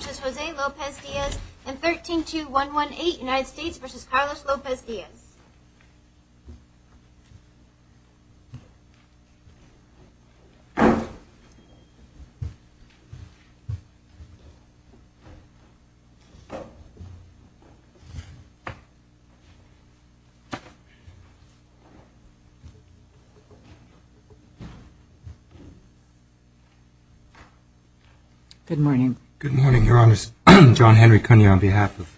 v. José López-Diaz and 132118 United States v. Carlos López-Diaz. Good morning. Good morning, Your Honors. John Henry Cunio on behalf of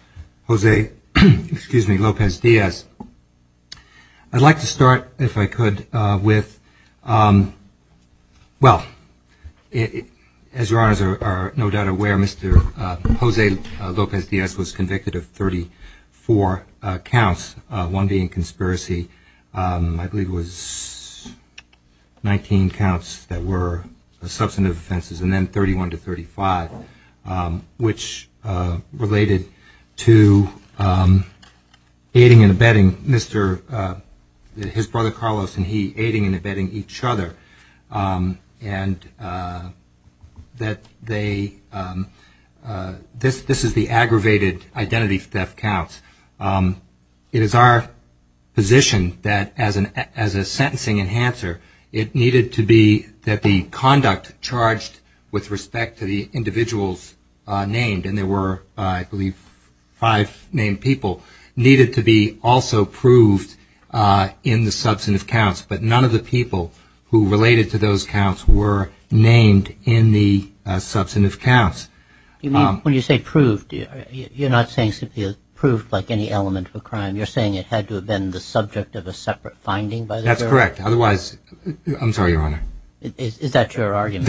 José López-Diaz. I'd like to start, if I could, with, well, as Your Honors are no doubt aware, Mr. José López-Diaz was convicted of 34 counts, one being conspiracy. I believe it was 19 counts that were substantive offenses, and then 31 to 35, which related to aiding and abetting his brother Carlos and he aiding and abetting each other. And that they, this is the aggravated counts. It is our position that as a sentencing enhancer, it needed to be that the conduct charged with respect to the individuals named, and there were, I believe, five named people, needed to be also proved in the substantive counts. But none of the people who related to those counts were named in the substantive counts. You mean, when you say proved, you're not saying simply proved like any element of a crime. You're saying it had to have been the subject of a separate finding? That's correct. Otherwise, I'm sorry, Your Honor. Is that your argument?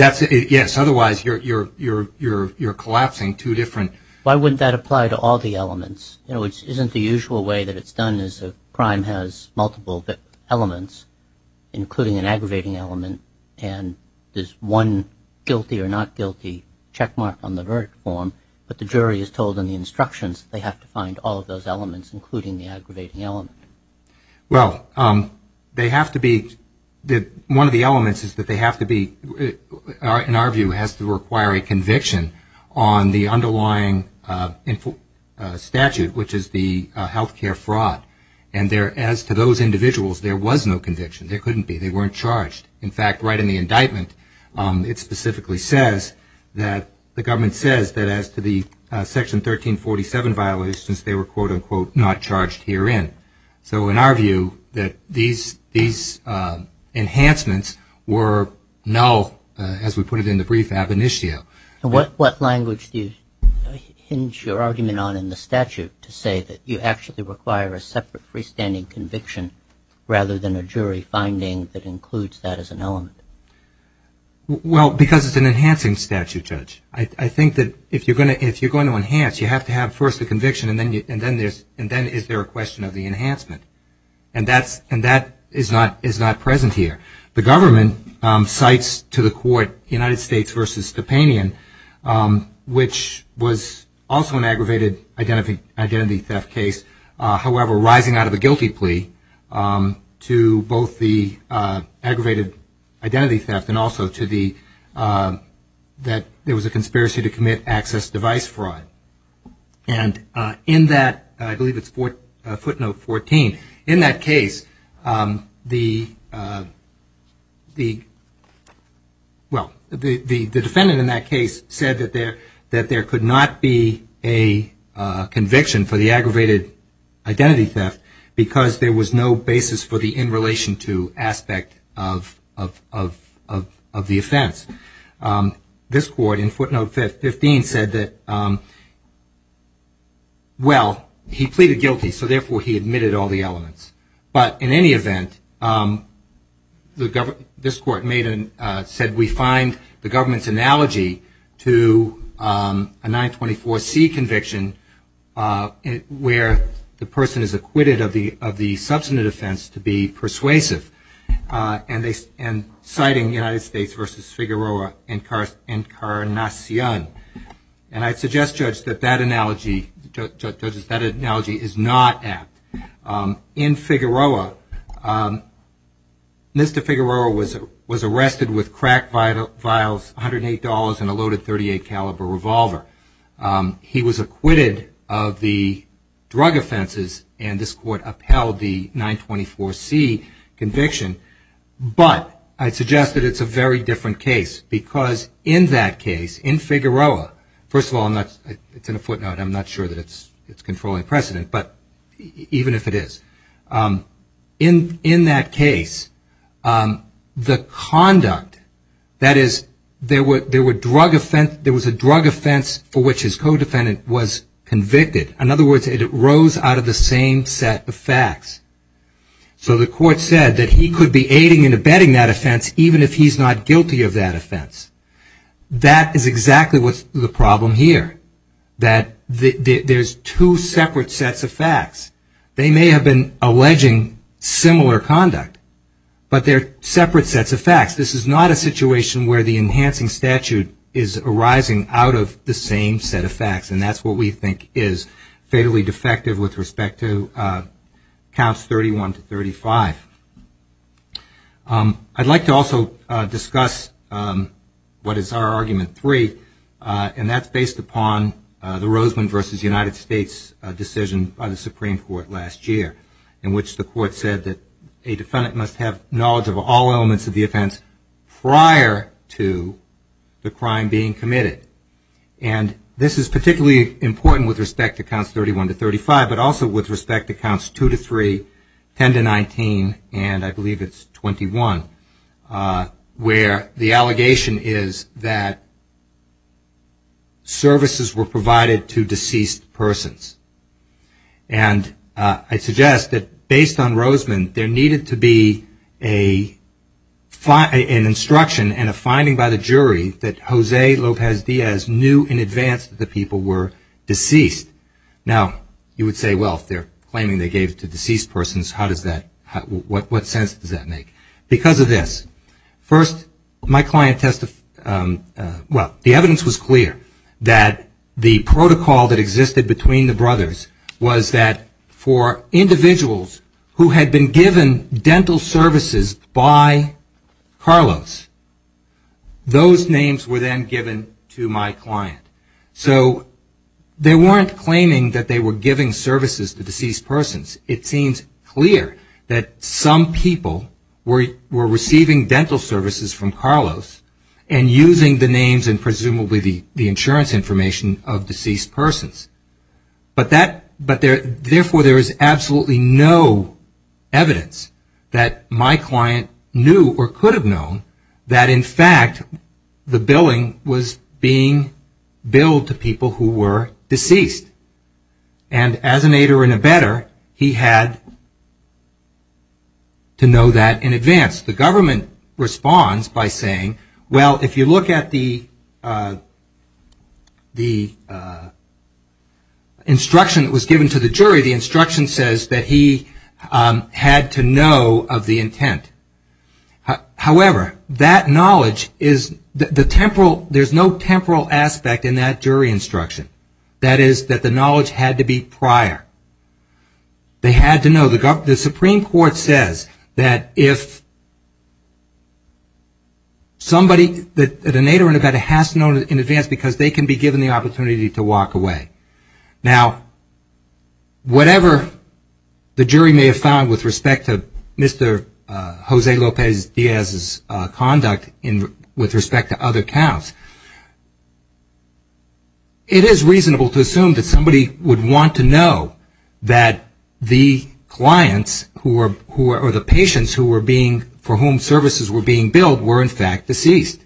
Yes. Otherwise, you're collapsing two different. Why wouldn't that apply to all the elements? You know, it isn't the usual way that it's done is a crime has multiple elements, including an aggravating element, and there's one guilty or not guilty checkmark on the verdict form, but the jury is told in the instructions they have to find all of those elements, including the aggravating element. Well, they have to be, one of the elements is that they have to be, in our view, has to require a conviction on the underlying statute, which is the health care fraud. And there, as to those individuals, there was no conviction. There couldn't be. They weren't charged. In fact, right in the indictment, it specifically says that the government says that as to the Section 1347 violations, they were, quote unquote, not charged herein. So in our view, that these enhancements were null, as we put it in the brief ab initio. And what language do you hinge your argument on in the statute to say that you actually require a separate freestanding conviction rather than a jury finding that includes that as an element? Well, because it's an enhancing statute, Judge. I think that if you're going to enhance, you have to have first a conviction, and then is there a question of the enhancement? And that is not present here. The government cites to the court United States v. Stepanian, which was also an aggravated identity theft case, however, rising out of a guilty plea to both the aggravated identity theft and also to the, that there was a conspiracy to commit access device fraud. And in that, I mean, the defendant in that case said that there could not be a conviction for the aggravated identity theft because there was no basis for the in relation to aspect of the offense. This court in footnote 15 said that, well, he pleaded guilty, so therefore he admitted all the elements. But in any event, this court made and said we find the government's analogy to a 924C conviction where the person is acquitted of the substantive offense to be persuasive. And citing United States v. Figueroa, and I suggest, Judge, that that in Figueroa, Mr. Figueroa was arrested with cracked vials, $108, and a loaded .38 caliber revolver. He was acquitted of the drug offenses, and this court upheld the 924C conviction. But I suggest that it's a very different case because in that case, in Figueroa, first of all, it's in a footnote. I'm not sure that it's controlling precedent, but even if it is, in that case, the conduct, that is, there was a drug offense for which his co-defendant was convicted. In other words, it arose out of the same set of facts. So the court said that he could be aiding and abetting that offense even if he's not guilty of that offense. That is exactly what's the problem here, that there's two separate sets of facts. They may have been alleging similar conduct, but they're separate sets of facts. This is not a situation where the enhancing statute is arising out of the same set of facts, and that's what we think is fatally defective with respect to counts 31 to 35. I'd like to also discuss what is our argument three, and that's based upon the Rosemond v. United States decision by the Supreme Court last year in which the court said that a defendant must have knowledge of all elements of the offense prior to the crime being committed. This is particularly important with respect to counts 31 to 35, but also with respect to counts 2 to 3, 10 to 19, and I believe it's 21, where the allegation is that services were provided to deceased persons. And I suggest that based on Rosemond, there needed to be an instruction and a finding by the jury that Jose Lopez Diaz knew in advance that the people who were deceased. Now, you would say, well, if they're claiming they gave it to deceased persons, what sense does that make? Because of this, the evidence was clear that the protocol that existed between the brothers was that for individuals who had been given dental services by Carlos, those names were then given to my client. So the evidence was clear that they weren't claiming that they were giving services to deceased persons. It seems clear that some people were receiving dental services from Carlos and using the names and presumably the insurance information of deceased persons. But therefore, there is absolutely no evidence that my client knew or could have known that, in fact, the billing was being paid to the people who were deceased. And as an aider and abetter, he had to know that in advance. The government responds by saying, well, if you look at the instruction that was given to the jury, the instruction says that he had to know of the intent. However, that knowledge is, there's no temporal aspect in that jury instruction. That is, that the knowledge had to be prior. They had to know. The Supreme Court says that if somebody, an aider and abetter has to know in advance because they can be given the opportunity to walk away. Now, whatever the jury may have found with respect to Mr. Jose Lopez Diaz's claim of conduct with respect to other counts, it is reasonable to assume that somebody would want to know that the clients or the patients who were being, for whom services were being billed were, in fact, deceased.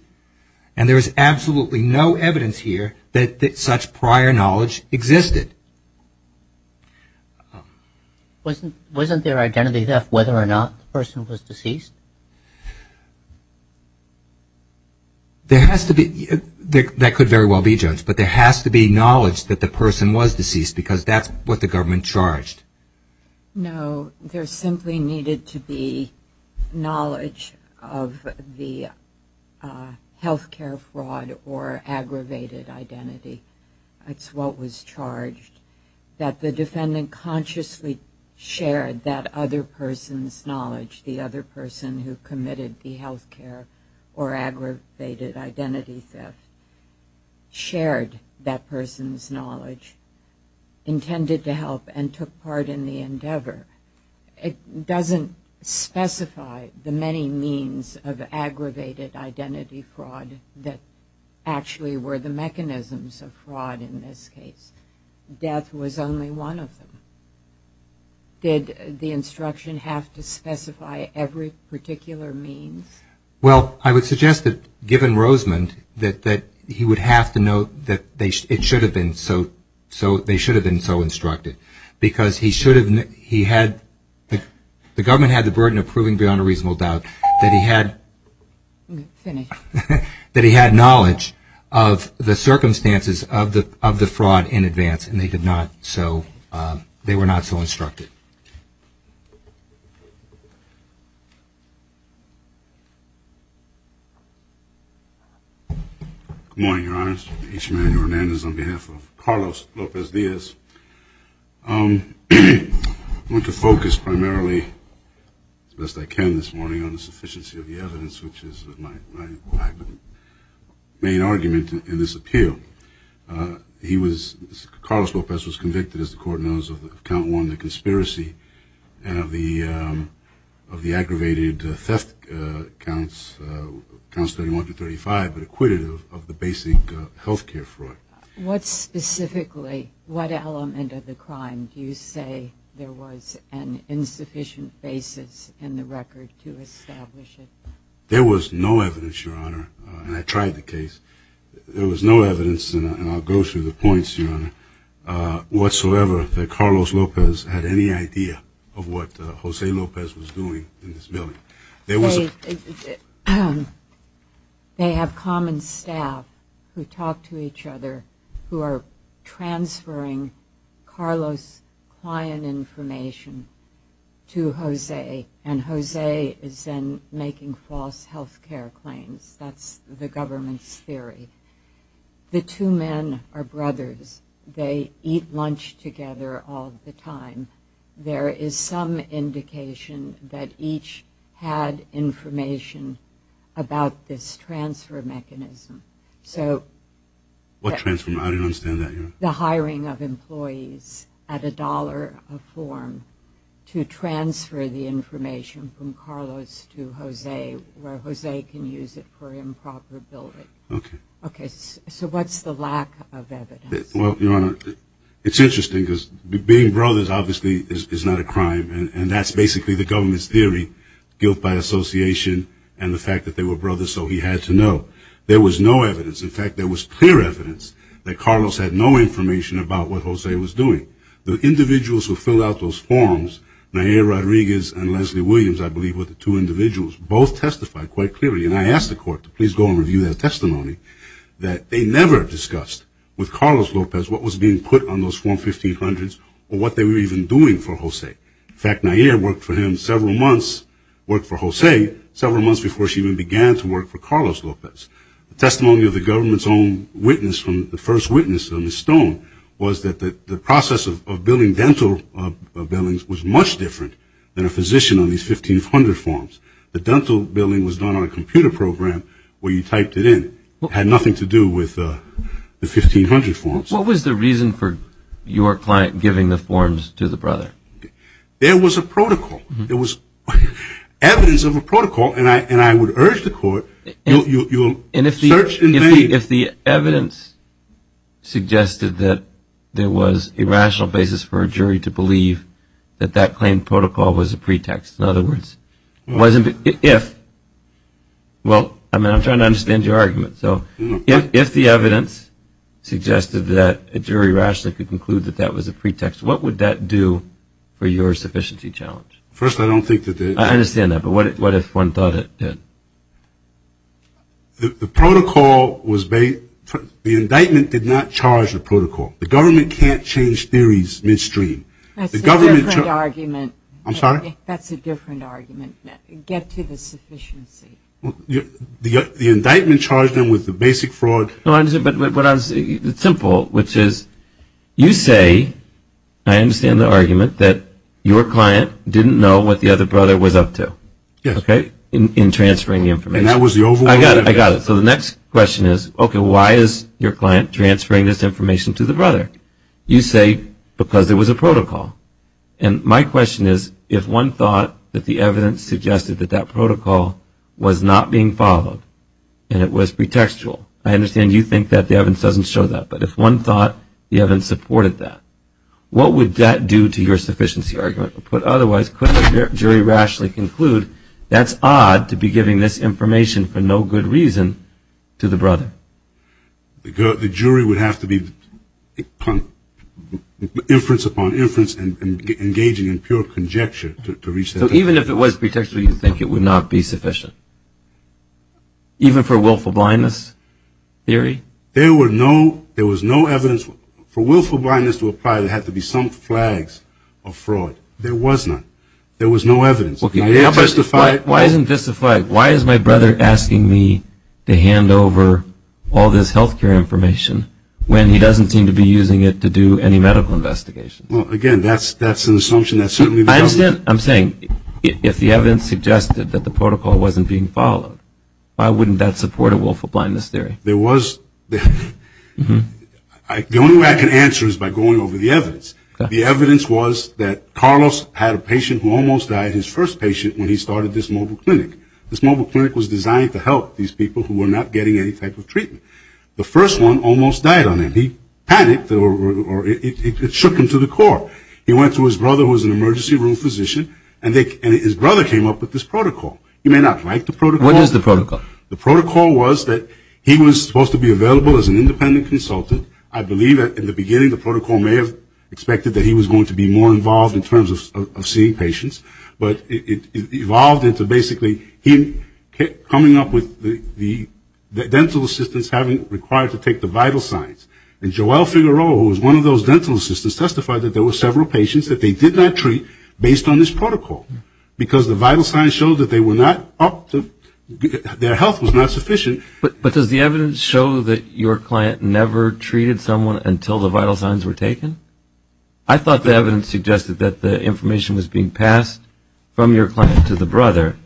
And there is absolutely no evidence here that such prior knowledge existed. Wasn't there identity theft whether or not the person was deceased? There has to be, that could very well be, Jones, but there has to be knowledge that the person was deceased because that's what the government charged. No, there simply needed to be knowledge of the health care fraud or aggravated identity. That's what was charged. That the defendant consciously shared that other person's knowledge, the other person who committed the health care or aggravated identity theft, shared that person's knowledge, intended to help, and took part in the endeavor. It doesn't specify the many means of aggravated identity fraud that actually were the mechanisms of fraud in this case. Death was only one of them. Did the instruction have to specify every particular means? Well, I would suggest that given Rosemond that he would have to know that it should have been so instructed because he should have, he had, the government had the burden of proving beyond a reasonable doubt that he had, that he had knowledge of the circumstances of the fraud in advance, and they did not, so, they were not so instructed. Good morning, Your Honors. H. Manuel Hernandez on behalf of Carlos Lopez-Diaz. I want to focus primarily, as best I can this morning, on the sufficiency of the evidence, which is my main argument in this appeal. He was, Carlos Lopez was convicted, as the Court knows, of count one, the conspiracy, and of the aggravated theft counts 31 to 35, but acquitted of the basic health care fraud. What specifically, what element of the crime do you say there was an insufficient basis in the record to establish it? There was no evidence, Your Honor, and I tried the case, there was no evidence, and I'll go through the points, Your Honor, whatsoever that Carlos Lopez had any idea of what Jose Lopez was doing in this building. They have common staff who talk to each other, who are transferring Carlos' client information to Jose, and Jose is then making false health care claims. That's the government's theory. The two men are brothers. They eat lunch together all the time. There is some indication that each had information about this transfer mechanism. What transfer mechanism? I don't understand that, Your Honor. The hiring of employees at a dollar a form to transfer the information from Carlos to Jose, where Jose can use it for improper building. Okay. Okay, so what's the lack of evidence? Well, Your Honor, it's interesting because being brothers obviously is not a crime, and that's basically the government's theory, guilt by association and the fact that they were brothers, so he had to know. There was no evidence. In fact, there was clear evidence that Carlos had no information about what Jose was doing. The individuals who filled out those forms, Nayir Rodriguez and Leslie Williams, I believe were the two individuals, both testified quite clearly, and I asked the court to please go and review their testimony, that they never discussed with Carlos Lopez what was being put on those form 1500s or what they were even doing for Jose. In fact, Nayir worked for him several months, worked for Jose several months before she even began to work for Carlos Lopez. The testimony of the government's own witness, the first witness on the stone, was that the process of billing dental billings was much different than a physician on these 1500 forms. The dental billing was done on a computer program where you typed it in. It had nothing to do with the 1500 forms. What was the reason for your client giving the forms to the brother? There was a protocol. There was evidence of a protocol, and I would urge the court, you'll search and date. And if the evidence suggested that there was a rational basis for a jury to believe that that claim protocol was a pretext, in other words, if, well, I mean, I'm trying to understand your argument, so if the evidence suggested that a jury rationally could conclude that that was a pretext, what would that do for your sufficiency challenge? First I don't think that the... I understand that, but what if one thought it did? The protocol was based... the indictment did not charge the protocol. The government can't change theories midstream. That's a different argument. I'm sorry? That's a different argument. Get to the sufficiency. The indictment charged them with the basic fraud... No, I understand, but what I was... it's simple, which is, you say, I understand the argument, that your client didn't know what the other brother was up to. Yes. Okay? In transferring the information. And that was the overall... I got it. I got it. So the next question is, okay, why is your client transferring this information to the brother? You say, because it was a protocol. And my question is, if one thought that the evidence suggested that that protocol was not being followed and it was pretextual, I understand you think that the evidence doesn't show that, but if one thought the evidence supported that, what would that do to your sufficiency argument? But otherwise, could a jury rationally conclude that's odd to be giving this information for no good reason to the brother? The jury would have to be inference upon inference and engaging in pure conjecture to reach that... So even if it was pretextual, you think it would not be sufficient? Even for willful blindness theory? There were no... there was no evidence for willful blindness to apply, there had to be some flags of fraud. There was none. There was no evidence. Why isn't this a flag? Why is my brother asking me to hand over all this health care information when he doesn't seem to be using it to do any medical investigation? Well, again, that's an assumption that certainly... I'm saying, if the evidence suggested that the protocol wasn't being followed, why wouldn't that support a willful blindness theory? There was... The only way I can answer is by going over the evidence. The evidence was that Carlos had a patient who almost died, his first patient, when he started this mobile clinic. This mobile clinic was designed to help these people who were not getting any type of treatment. The first one almost died on him. He panicked or it shook him to the core. He went to his brother, who was an emergency room physician, and his brother came up with this protocol. You may not like the protocol. What is the protocol? The protocol was that he was supposed to be available as an independent consultant. I believe that in the beginning, the protocol may have expected that he was going to be more involved in terms of seeing patients, but it evolved into basically him coming up with the dental assistants having required to take the vital signs. And Joelle Figueroa, who was one of those dental assistants, testified that there were several patients that they did not treat based on this protocol, because the vital signs showed that they were not up to, their health was not sufficient. But does the evidence show that your client never treated someone until the vital signs were taken? I thought the evidence suggested that the information was being passed from your client to the brother,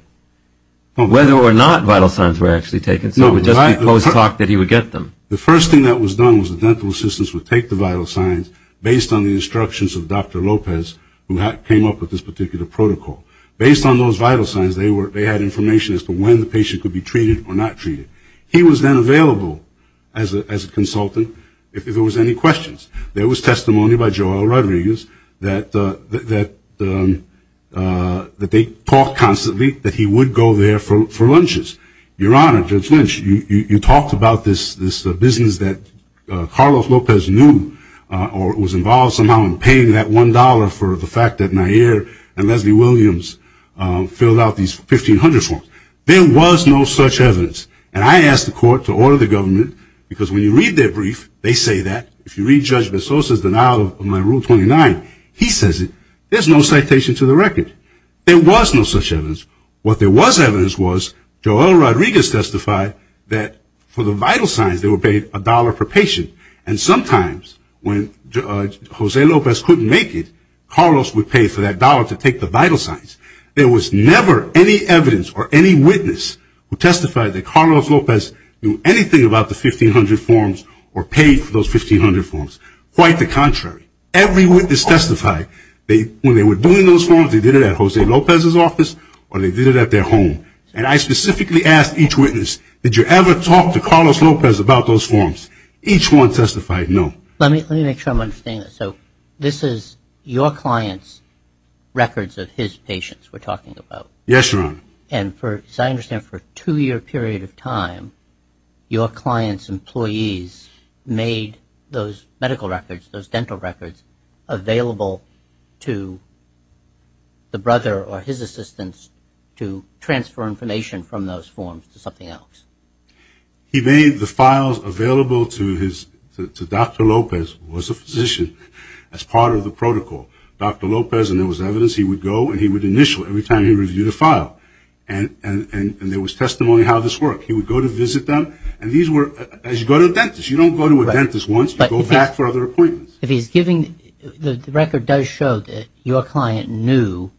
whether or not vital signs were actually taken, so it would just be post-talk that he would get them. The first thing that was done was the dental assistants would take the vital signs based on the instructions of Dr. Lopez, who came up with this particular protocol. Based on those vital signs, they had information as to when the patient could be treated or not treated. He was then available as a consultant if there was any questions. There was testimony by Joelle Rodriguez that they talked constantly that he would go there for lunches. Your Honor, Judge Lynch, you talked about this business that Carlos Lopez knew or was involved somehow in paying that $1 for the fact that Nayir and Leslie Williams filled out these 1500 forms. There was no such evidence, and I asked the court to order the government, because when you read their brief, they say that. If you read Judge Bessosa's denial of my Rule 29, he says it. There's no citation to the record. There was no such evidence. What there was evidence was Joelle Rodriguez testified that for the vital signs, they were paid $1 per patient, and sometimes when Judge Jose Lopez couldn't make it, Carlos would pay for that $1 to take the vital signs. There was never any evidence or any witness who testified that Carlos Lopez knew anything about the 1500 forms or paid for those 1500 forms. Quite the contrary. Every witness testified. When they were doing those forms, they did it at Jose Lopez's office or they did it at their home, and I specifically asked each witness, did you ever talk to Carlos Lopez about those forms? Each one testified, no. Let me make sure I'm understanding this. This is your client's records of his patients we're talking about. Yes, Your Honor. And as I understand, for a two-year period of time, your client's employees made those medical records, those dental records, available to the brother or his assistants to transfer information from those forms to something else. He made the files available to Dr. Lopez, who was a physician, as part of the protocol. Dr. Lopez, and there was evidence, he would go and he would initial every time he reviewed a file, and there was testimony how this worked. He would go to visit them, and these were, as you go to a dentist, you don't go to a dentist once, you go back for other appointments. If he's giving, the record does show that your client knew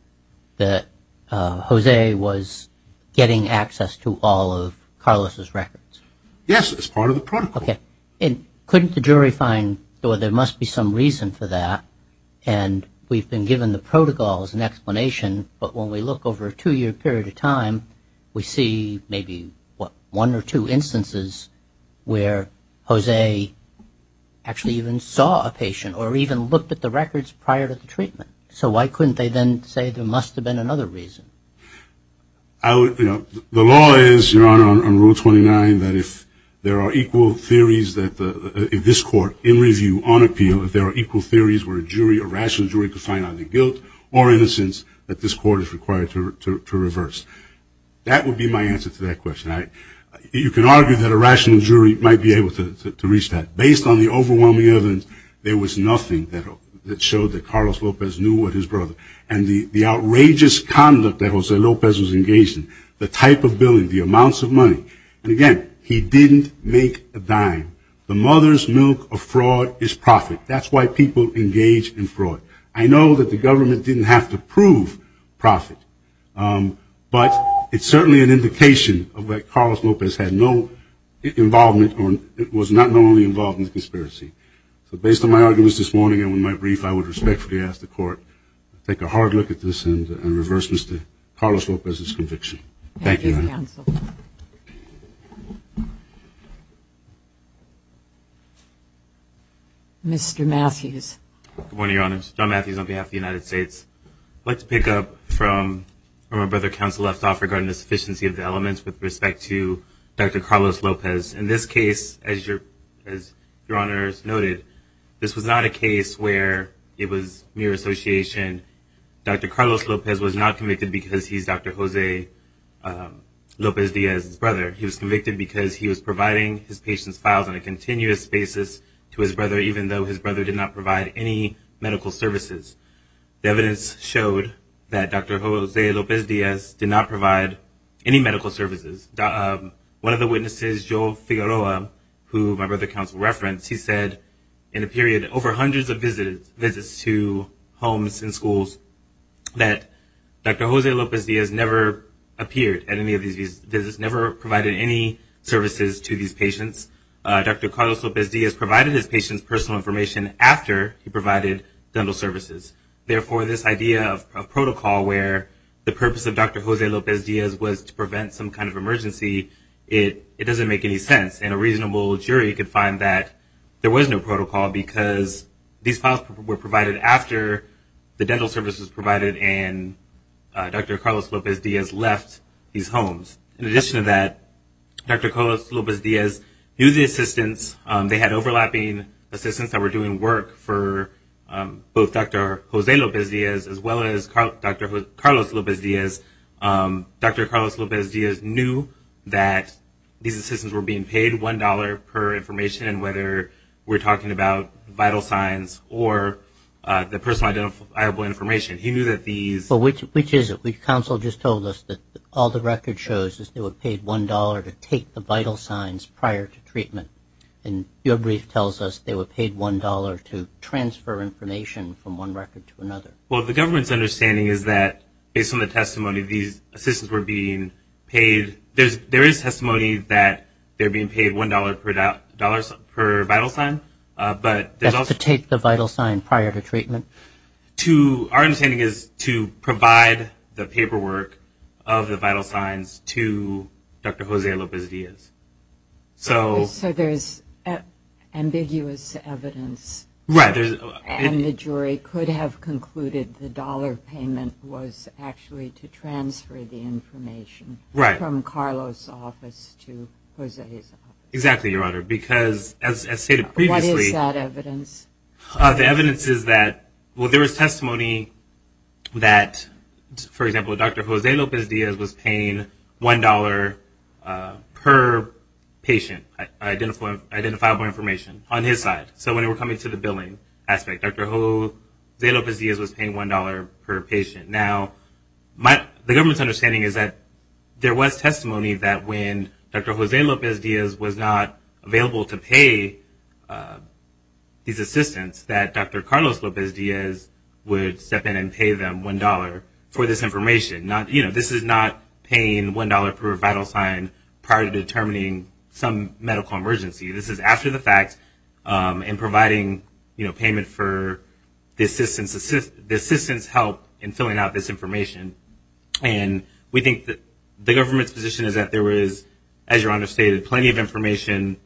that Jose was getting access to all of Carlos' records. Yes, as part of the protocol. Okay. And couldn't the jury find, well, there must be some reason for that, and we've been given the protocol as an explanation, but when we look over a two-year period of time, we see maybe, what, one or two instances where Jose actually even saw a patient, or even looked at the records prior to the treatment. So why couldn't they then say there must have been another reason? I would, you know, the law is, Your Honor, on Rule 29, that if there are equal theories that the, if this court, in review, on appeal, if there are equal theories where a jury, a rational jury, could find either guilt or innocence, that this court is required to reverse. That would be my answer to that question. You can argue that a rational jury might be able to reach that. Based on the overwhelming evidence, there was nothing that showed that Carlos Lopez knew what his brother, and the outrageous conduct that Jose Lopez was engaged in, the type of billing, the amounts of money, and again, he didn't make a dime. The mother's milk of fraud is profit. That's why people engage in fraud. I know that the government didn't have to prove profit, but it's certainly an indication of that Carlos Lopez had no involvement, or was not normally involved in the conspiracy. So based on my arguments this morning and with my brief, I would respectfully ask the court to take a hard look at this and reverse Mr. Carlos Lopez's conviction. Thank you, Your Honor. Mr. Matthews. Good morning, Your Honors. John Matthews on behalf of the United States. I'd like to pick up from where my brother, counsel, left off regarding the sufficiency of the elements with respect to Dr. Carlos Lopez. In this case, as Your Honors noted, this was not a case where it was mere association. Dr. Carlos Lopez was not convicted because he's Dr. Jose Lopez Diaz's brother. He was convicted because he was providing his patient's files on a continuous basis to his brother, even though his brother did not provide any medical services. The evidence showed that Dr. Jose Lopez Diaz did not provide any medical services. One of the witnesses, Joel Figueroa, who my brother, counsel, referenced, he said in a period of over hundreds of visits to homes and schools that Dr. Jose Lopez Diaz never appeared at any of these visits, never provided any services to these patients. Dr. Carlos Lopez Diaz provided his patients personal information after he provided dental services. Therefore, this idea of protocol where the purpose of Dr. Jose Lopez Diaz was to prevent some kind of emergency, it doesn't make any sense. And a reasonable jury could find that there was no protocol because these files were provided after the dental services were provided and Dr. Carlos Lopez Diaz left these homes. In addition to that, Dr. Carlos Lopez Diaz knew the assistants. They had overlapping assistants that were doing work for both Dr. Jose Lopez Diaz as well as Dr. Carlos Lopez Diaz. Dr. Carlos Lopez Diaz knew that these assistants were being paid $1 per information, whether we're talking about vital signs or the personal identifiable information. He knew that these... Which is it? Counsel just told us that all the record shows is they were paid $1 to take the vital signs prior to treatment. And your brief tells us they were paid $1 to transfer information from one record to another. Well, the government's understanding is that based on the testimony, these assistants were being paid... There is testimony that they're being paid $1 per vital sign, but there's also... To take the vital sign prior to treatment. To... Our understanding is to provide the paperwork of the vital signs to Dr. Jose Lopez Diaz. So... So there's ambiguous evidence. Right. And the jury could have concluded the dollar payment was actually to transfer the information... Right. ...from Carlos' office to Jose's office. Exactly, Your Honor, because as stated previously... What is that evidence? The evidence is that, well, there is testimony that, for example, Dr. Jose Lopez Diaz was paying $1 per patient, identifiable information, on his side. So when we're coming to the billing aspect, Dr. Jose Lopez Diaz was paying $1 per patient. Now, the government's understanding is that there was testimony that when Dr. Jose Lopez Diaz was not available to pay these assistants, that Dr. Carlos Lopez Diaz would step in and pay them $1 for this information. You know, this is not paying $1 per vital sign prior to determining some medical emergency. This is after the fact and providing, you know, payment for the assistants' help in filling out this information. And we think that the government's position is that there was, as Your Honor stated, plenty of information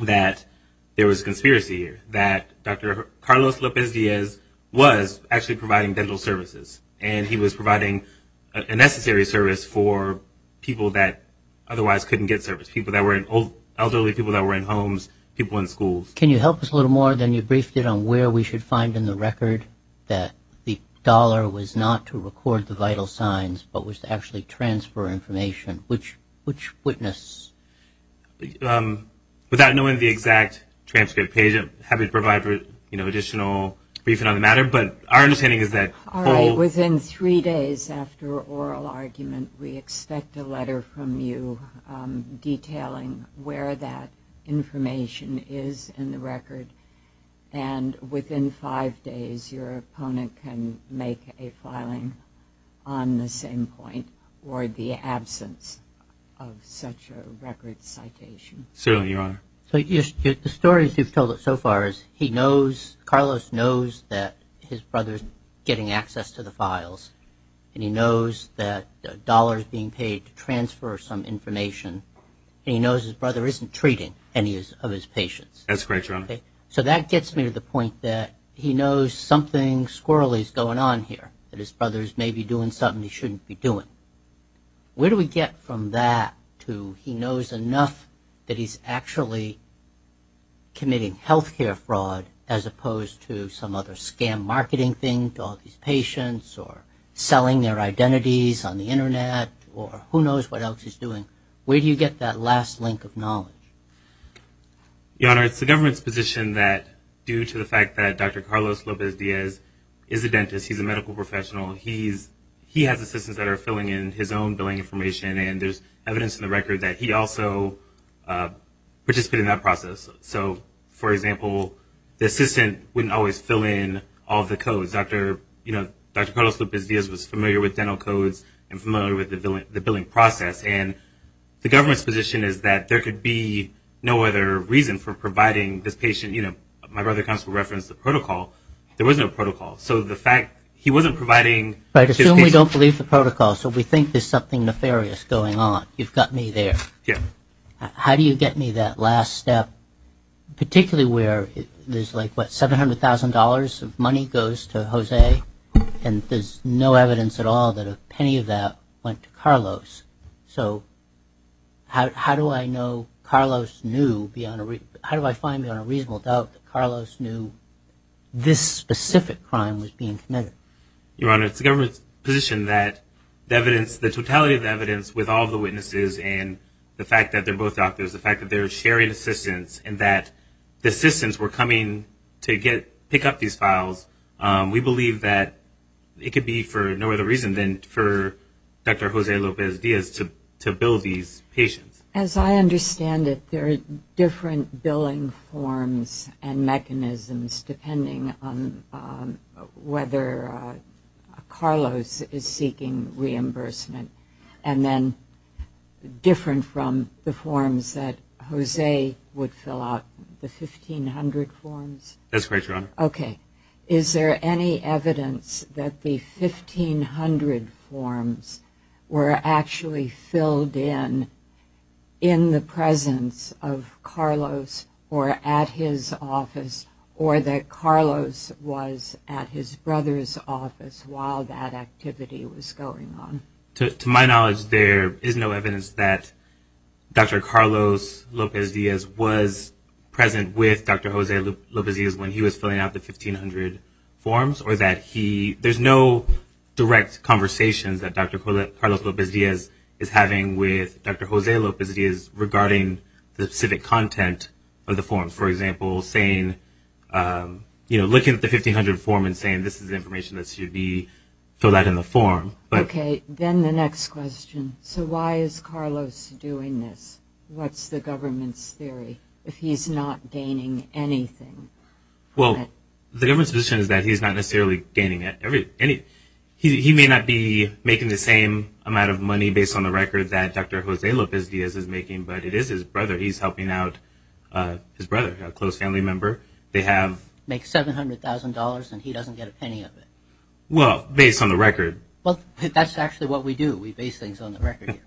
that there was a conspiracy here, that Dr. Carlos Lopez Diaz was actually providing dental services. And he was providing a necessary service for people that otherwise couldn't get service, elderly people that were in homes, people in schools. Can you help us a little more? Then you briefed it on where we should find in the record that the dollar was not to record the vital signs, but was to actually transfer information. Which witness? Without knowing the exact transcript page, I'm happy to provide, you know, additional But our understanding is that... All right. Within three days after oral argument, we expect a letter from you detailing where that information is in the record. And within five days, your opponent can make a filing on the same point or the absence of such a record citation. Certainly, Your Honor. So the stories you've told us so far is he knows, Carlos knows that his brother's getting access to the files. And he knows that the dollar is being paid to transfer some information. And he knows his brother isn't treating any of his patients. That's correct, Your Honor. So that gets me to the point that he knows something squirrelly is going on here, that his brother's maybe doing something he shouldn't be doing. Where do we get from that to he knows enough that he's actually committing health care fraud as opposed to some other scam marketing thing to all these patients or selling their identities on the Internet or who knows what else he's doing? Where do you get that last link of knowledge? Your Honor, it's the government's position that due to the fact that Dr. Carlos Lopez-Diaz is a dentist, he's a medical professional, he has assistants that are filling in his own billing information. And there's evidence in the record that he also participated in that process. So, for example, the assistant wouldn't always fill in all the codes. Dr. Carlos Lopez-Diaz was familiar with dental codes and familiar with the billing process. And the government's position is that there could be no other reason for providing this patient, you know, my brother comes to reference the protocol. There was no protocol. So the fact he wasn't providing his patient. But I assume we don't believe the protocol. So we think there's something nefarious going on. You've got me there. Yeah. How do you get me that last step, particularly where there's like, what, $700,000 of money goes to Jose and there's no evidence at all that a penny of that went to Carlos? So how do I know Carlos knew beyond a – how do I find beyond a reasonable doubt that Carlos knew this specific crime was being committed? Your Honor, it's the government's position that the evidence, the totality of the evidence with all the witnesses and the fact that they're both doctors, the fact that they're sharing assistance and that the assistants were coming to pick up these files, we believe that it could be for no other reason than for Dr. Jose Lopez-Diaz to bill these patients. As I understand it, there are different billing forms and mechanisms depending on whether Carlos is seeking reimbursement. And then different from the forms that Jose would fill out, the 1,500 forms? That's correct, Your Honor. Okay. Is there any evidence that the 1,500 forms were actually filled in in the presence of while that activity was going on? To my knowledge, there is no evidence that Dr. Carlos Lopez-Diaz was present with Dr. Jose Lopez-Diaz when he was filling out the 1,500 forms or that he – there's no direct conversations that Dr. Carlos Lopez-Diaz is having with Dr. Jose Lopez-Diaz regarding the specific content of the forms. So for example, looking at the 1,500 form and saying this is information that should be filled out in the form. Okay. Then the next question. So why is Carlos doing this? What's the government's theory if he's not gaining anything? Well, the government's position is that he's not necessarily gaining anything. He may not be making the same amount of money based on the record that Dr. Jose Lopez-Diaz is making, but it is his brother. So he's helping out his brother, a close family member. They have – Make $700,000 and he doesn't get a penny of it. Well, based on the record. Well, that's actually what we do. We base things on the record.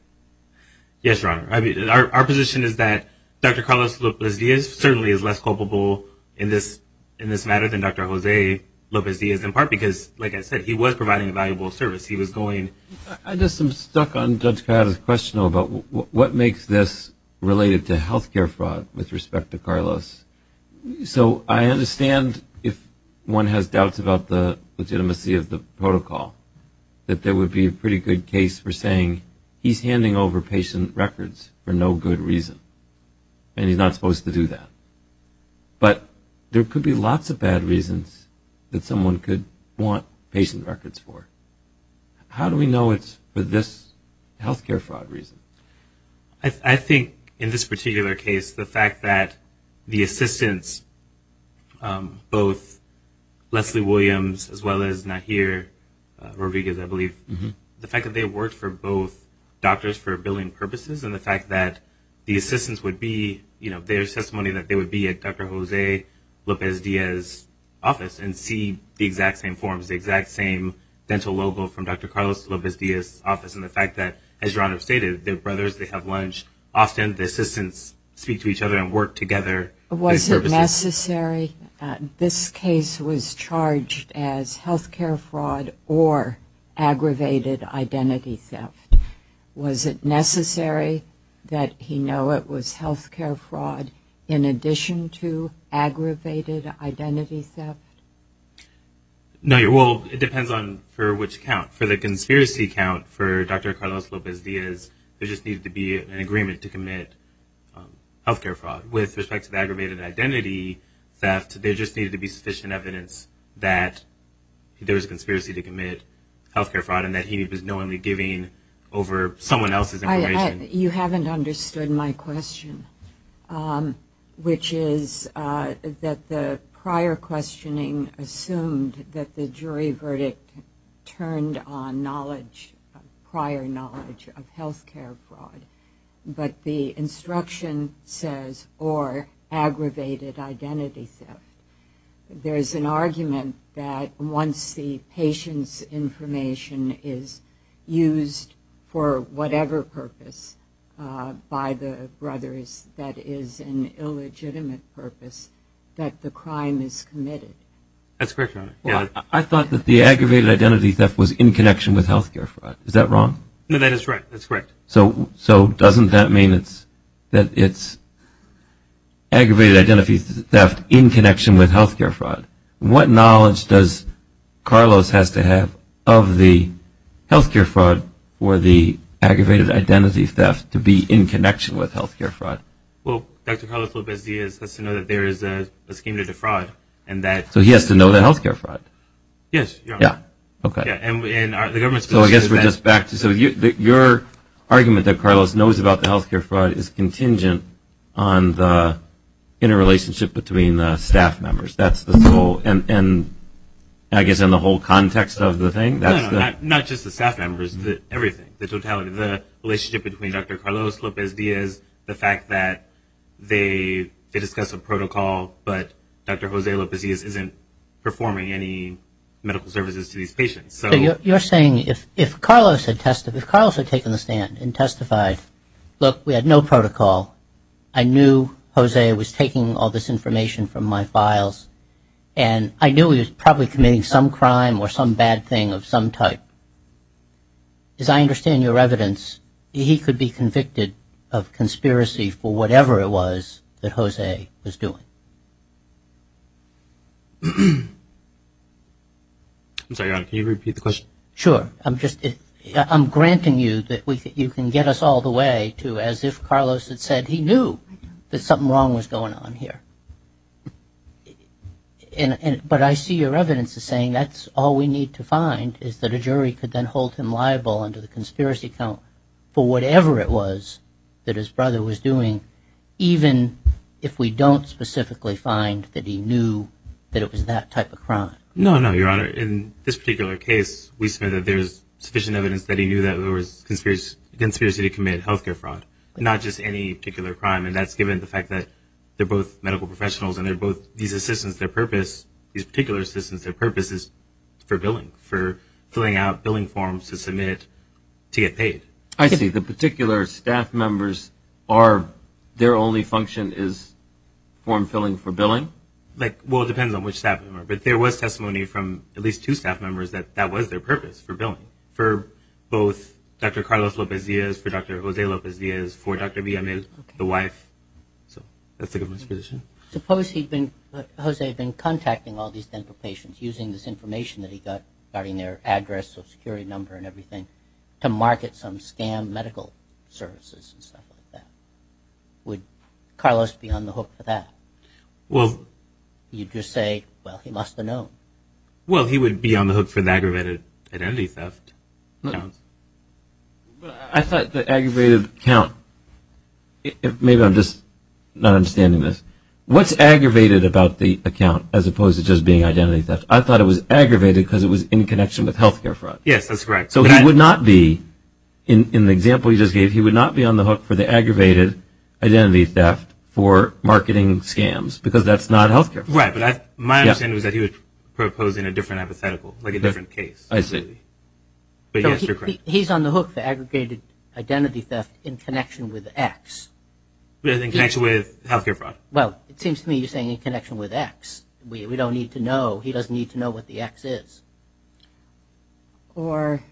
Yes, Your Honor. Our position is that Dr. Carlos Lopez-Diaz certainly is less culpable in this matter than Dr. Jose Lopez-Diaz in part because, like I said, he was providing a valuable service. He was going – I guess I'm stuck on Judge Coyote's question about what makes this related to health care fraud with respect to Carlos. So I understand if one has doubts about the legitimacy of the protocol, that there would be a pretty good case for saying he's handing over patient records for no good reason and he's not supposed to do that. But there could be lots of bad reasons that someone could want patient records for. How do we know it's for this health care fraud reason? I think in this particular case, the fact that the assistants, both Leslie Williams as well as Nahir Rodriguez, I believe, the fact that they worked for both doctors for billing purposes and the fact that the assistants would be – their testimony that they would be at Dr. Jose Lopez-Diaz's office and see the exact same forms, the exact same dental logo from Dr. Carlos Lopez-Diaz's office, and the fact that, as John has stated, they're brothers, they have lunch. Often the assistants speak to each other and work together. Was it necessary – this case was charged as health care fraud or aggravated identity theft. Was it necessary that he know it was health care fraud in addition to aggravated identity theft? Nahir, well, it depends on for which count. For the conspiracy count for Dr. Carlos Lopez-Diaz, there just needed to be an agreement to commit health care fraud. With respect to the aggravated identity theft, there just needed to be sufficient evidence that there was a conspiracy to commit health care fraud and that he was knowingly giving over someone else's information. You haven't understood my question, which is that the prior questioning assumed that the jury verdict turned on knowledge, prior knowledge of health care fraud. But the instruction says, or aggravated identity theft, there is an argument that once the patient's information is used for whatever purpose by the brothers that is an illegitimate purpose, that the crime is committed. That's correct, Your Honor. I thought that the aggravated identity theft was in connection with health care fraud. Is that wrong? No, that is right. That's correct. So doesn't that mean that it's aggravated identity theft in connection with health care fraud? What knowledge does Carlos have to have of the health care fraud or the aggravated identity theft to be in connection with health care fraud? Well, Dr. Carlos Lopez-Diaz has to know that there is a scheme to defraud. So he has to know the health care fraud? Yes, Your Honor. Yeah, okay. So I guess we're just back to your argument that Carlos knows about the health care fraud is contingent on the interrelationship between the staff members. That's the whole, and I guess in the whole context of the thing. No, no, not just the staff members, everything, the totality, the relationship between Dr. Carlos Lopez-Diaz, the fact that they discuss a protocol but Dr. Jose Lopez-Diaz isn't performing any medical services to these patients. So you're saying if Carlos had taken the stand and testified, look, we had no protocol, I knew Jose was taking all this information from my files, and I knew he was probably committing some crime or some bad thing of some type, as I understand your evidence, he could be convicted of conspiracy for whatever it was that Jose was doing. I'm sorry, Your Honor, can you repeat the question? Sure. I'm granting you that you can get us all the way to as if Carlos had said he knew that something wrong was going on here. But I see your evidence as saying that's all we need to find, is that a jury could then hold him liable under the conspiracy count for whatever it was that his brother was doing, even if we don't specifically find that he knew that it was that type of crime. No, no, Your Honor, in this particular case, we say that there's sufficient evidence that he knew that there was conspiracy to commit health care fraud, not just any particular crime, and that's given the fact that they're both medical professionals and they're both these assistants, their purpose, these particular assistants, their purpose is for billing, for filling out billing forms to submit to get paid. I see. The particular staff members, their only function is form filling for billing? Well, it depends on which staff member, but there was testimony from at least two staff members that that was their purpose for billing, for both Dr. Carlos Lopez-Diaz, for Dr. Jose Lopez-Diaz, for Dr. Villamil, the wife. So that's the government's position. Suppose Jose had been contacting all these dental patients, using this information that he got regarding their address, social security number, and everything, to market some scam medical services and stuff like that. Would Carlos be on the hook for that? Well, You'd just say, well, he must have known. Well, he would be on the hook for the aggravated identity theft. I thought the aggravated count, maybe I'm just not understanding this. What's aggravated about the account as opposed to just being identity theft? I thought it was aggravated because it was in connection with health care fraud. Yes, that's correct. So he would not be, in the example you just gave, he would not be on the hook for the aggravated identity theft for marketing scams because that's not health care fraud. Right, but my understanding is that he was proposing a different hypothetical, like a different case. I see. But yes, you're correct. He's on the hook for aggregated identity theft in connection with X. In connection with health care fraud. Well, it seems to me you're saying in connection with X. We don't need to know. He doesn't need to know what the X is. Or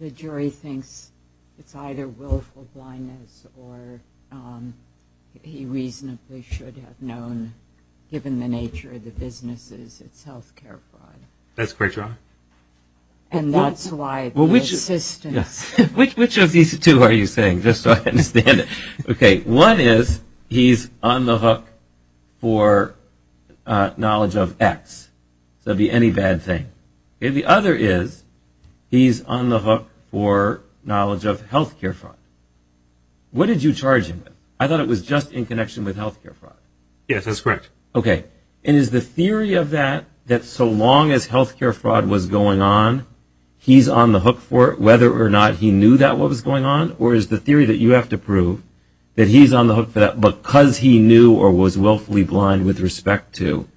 the jury thinks it's either willful blindness or he reasonably should have known, given the nature of the businesses, it's health care fraud. That's correct, Your Honor. And that's why the assistance. Which of these two are you saying, just so I understand it? Okay, one is he's on the hook for knowledge of X. So it would be any bad thing. The other is he's on the hook for knowledge of health care fraud. What did you charge him with? I thought it was just in connection with health care fraud. Yes, that's correct. Okay, and is the theory of that, that so long as health care fraud was going on, he's on the hook for it, whether or not he knew that was going on, or is the theory that you have to prove that he's on the hook for that because he knew or was willfully blind with respect to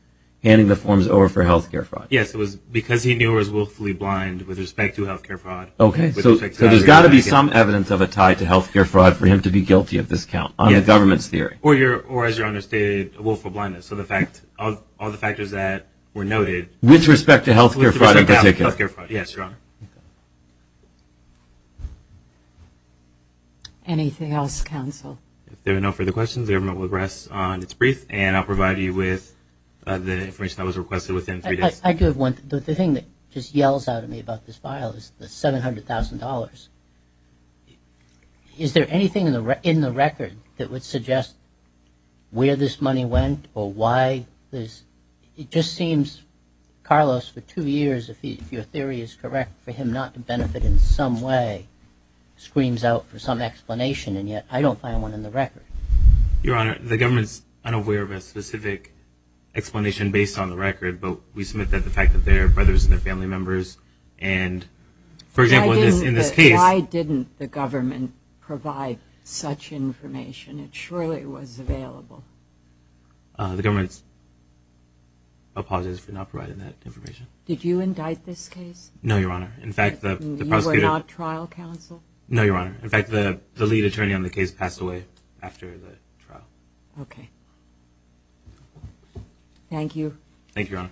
handing the forms over for health care fraud? Yes, it was because he knew or was willfully blind with respect to health care fraud. Okay, so there's got to be some evidence of a tie to health care fraud for him to be guilty of this count, on the government's theory. Or as Your Honor stated, willful blindness. So all the factors that were noted. With respect to health care fraud in particular. Anything else, counsel? If there are no further questions, the government will rest on its brief, and I'll provide you with the information that was requested within three days. I do have one. The thing that just yells out at me about this file is the $700,000. Is there anything in the record that would suggest where this money went or why this? It just seems, Carlos, for two years, if your theory is correct, for him not to benefit in some way screams out for some explanation, and yet I don't find one in the record. Your Honor, the government's unaware of a specific explanation based on the record, but we submit that the fact that they're brothers and they're family members, and, for example, in this case. Why didn't the government provide such information? It surely was available. The government's apologies for not providing that information. Did you indict this case? No, Your Honor. You were not trial counsel? No, Your Honor. In fact, the lead attorney on the case passed away after the trial. Okay. Thank you. Thank you, Your Honor.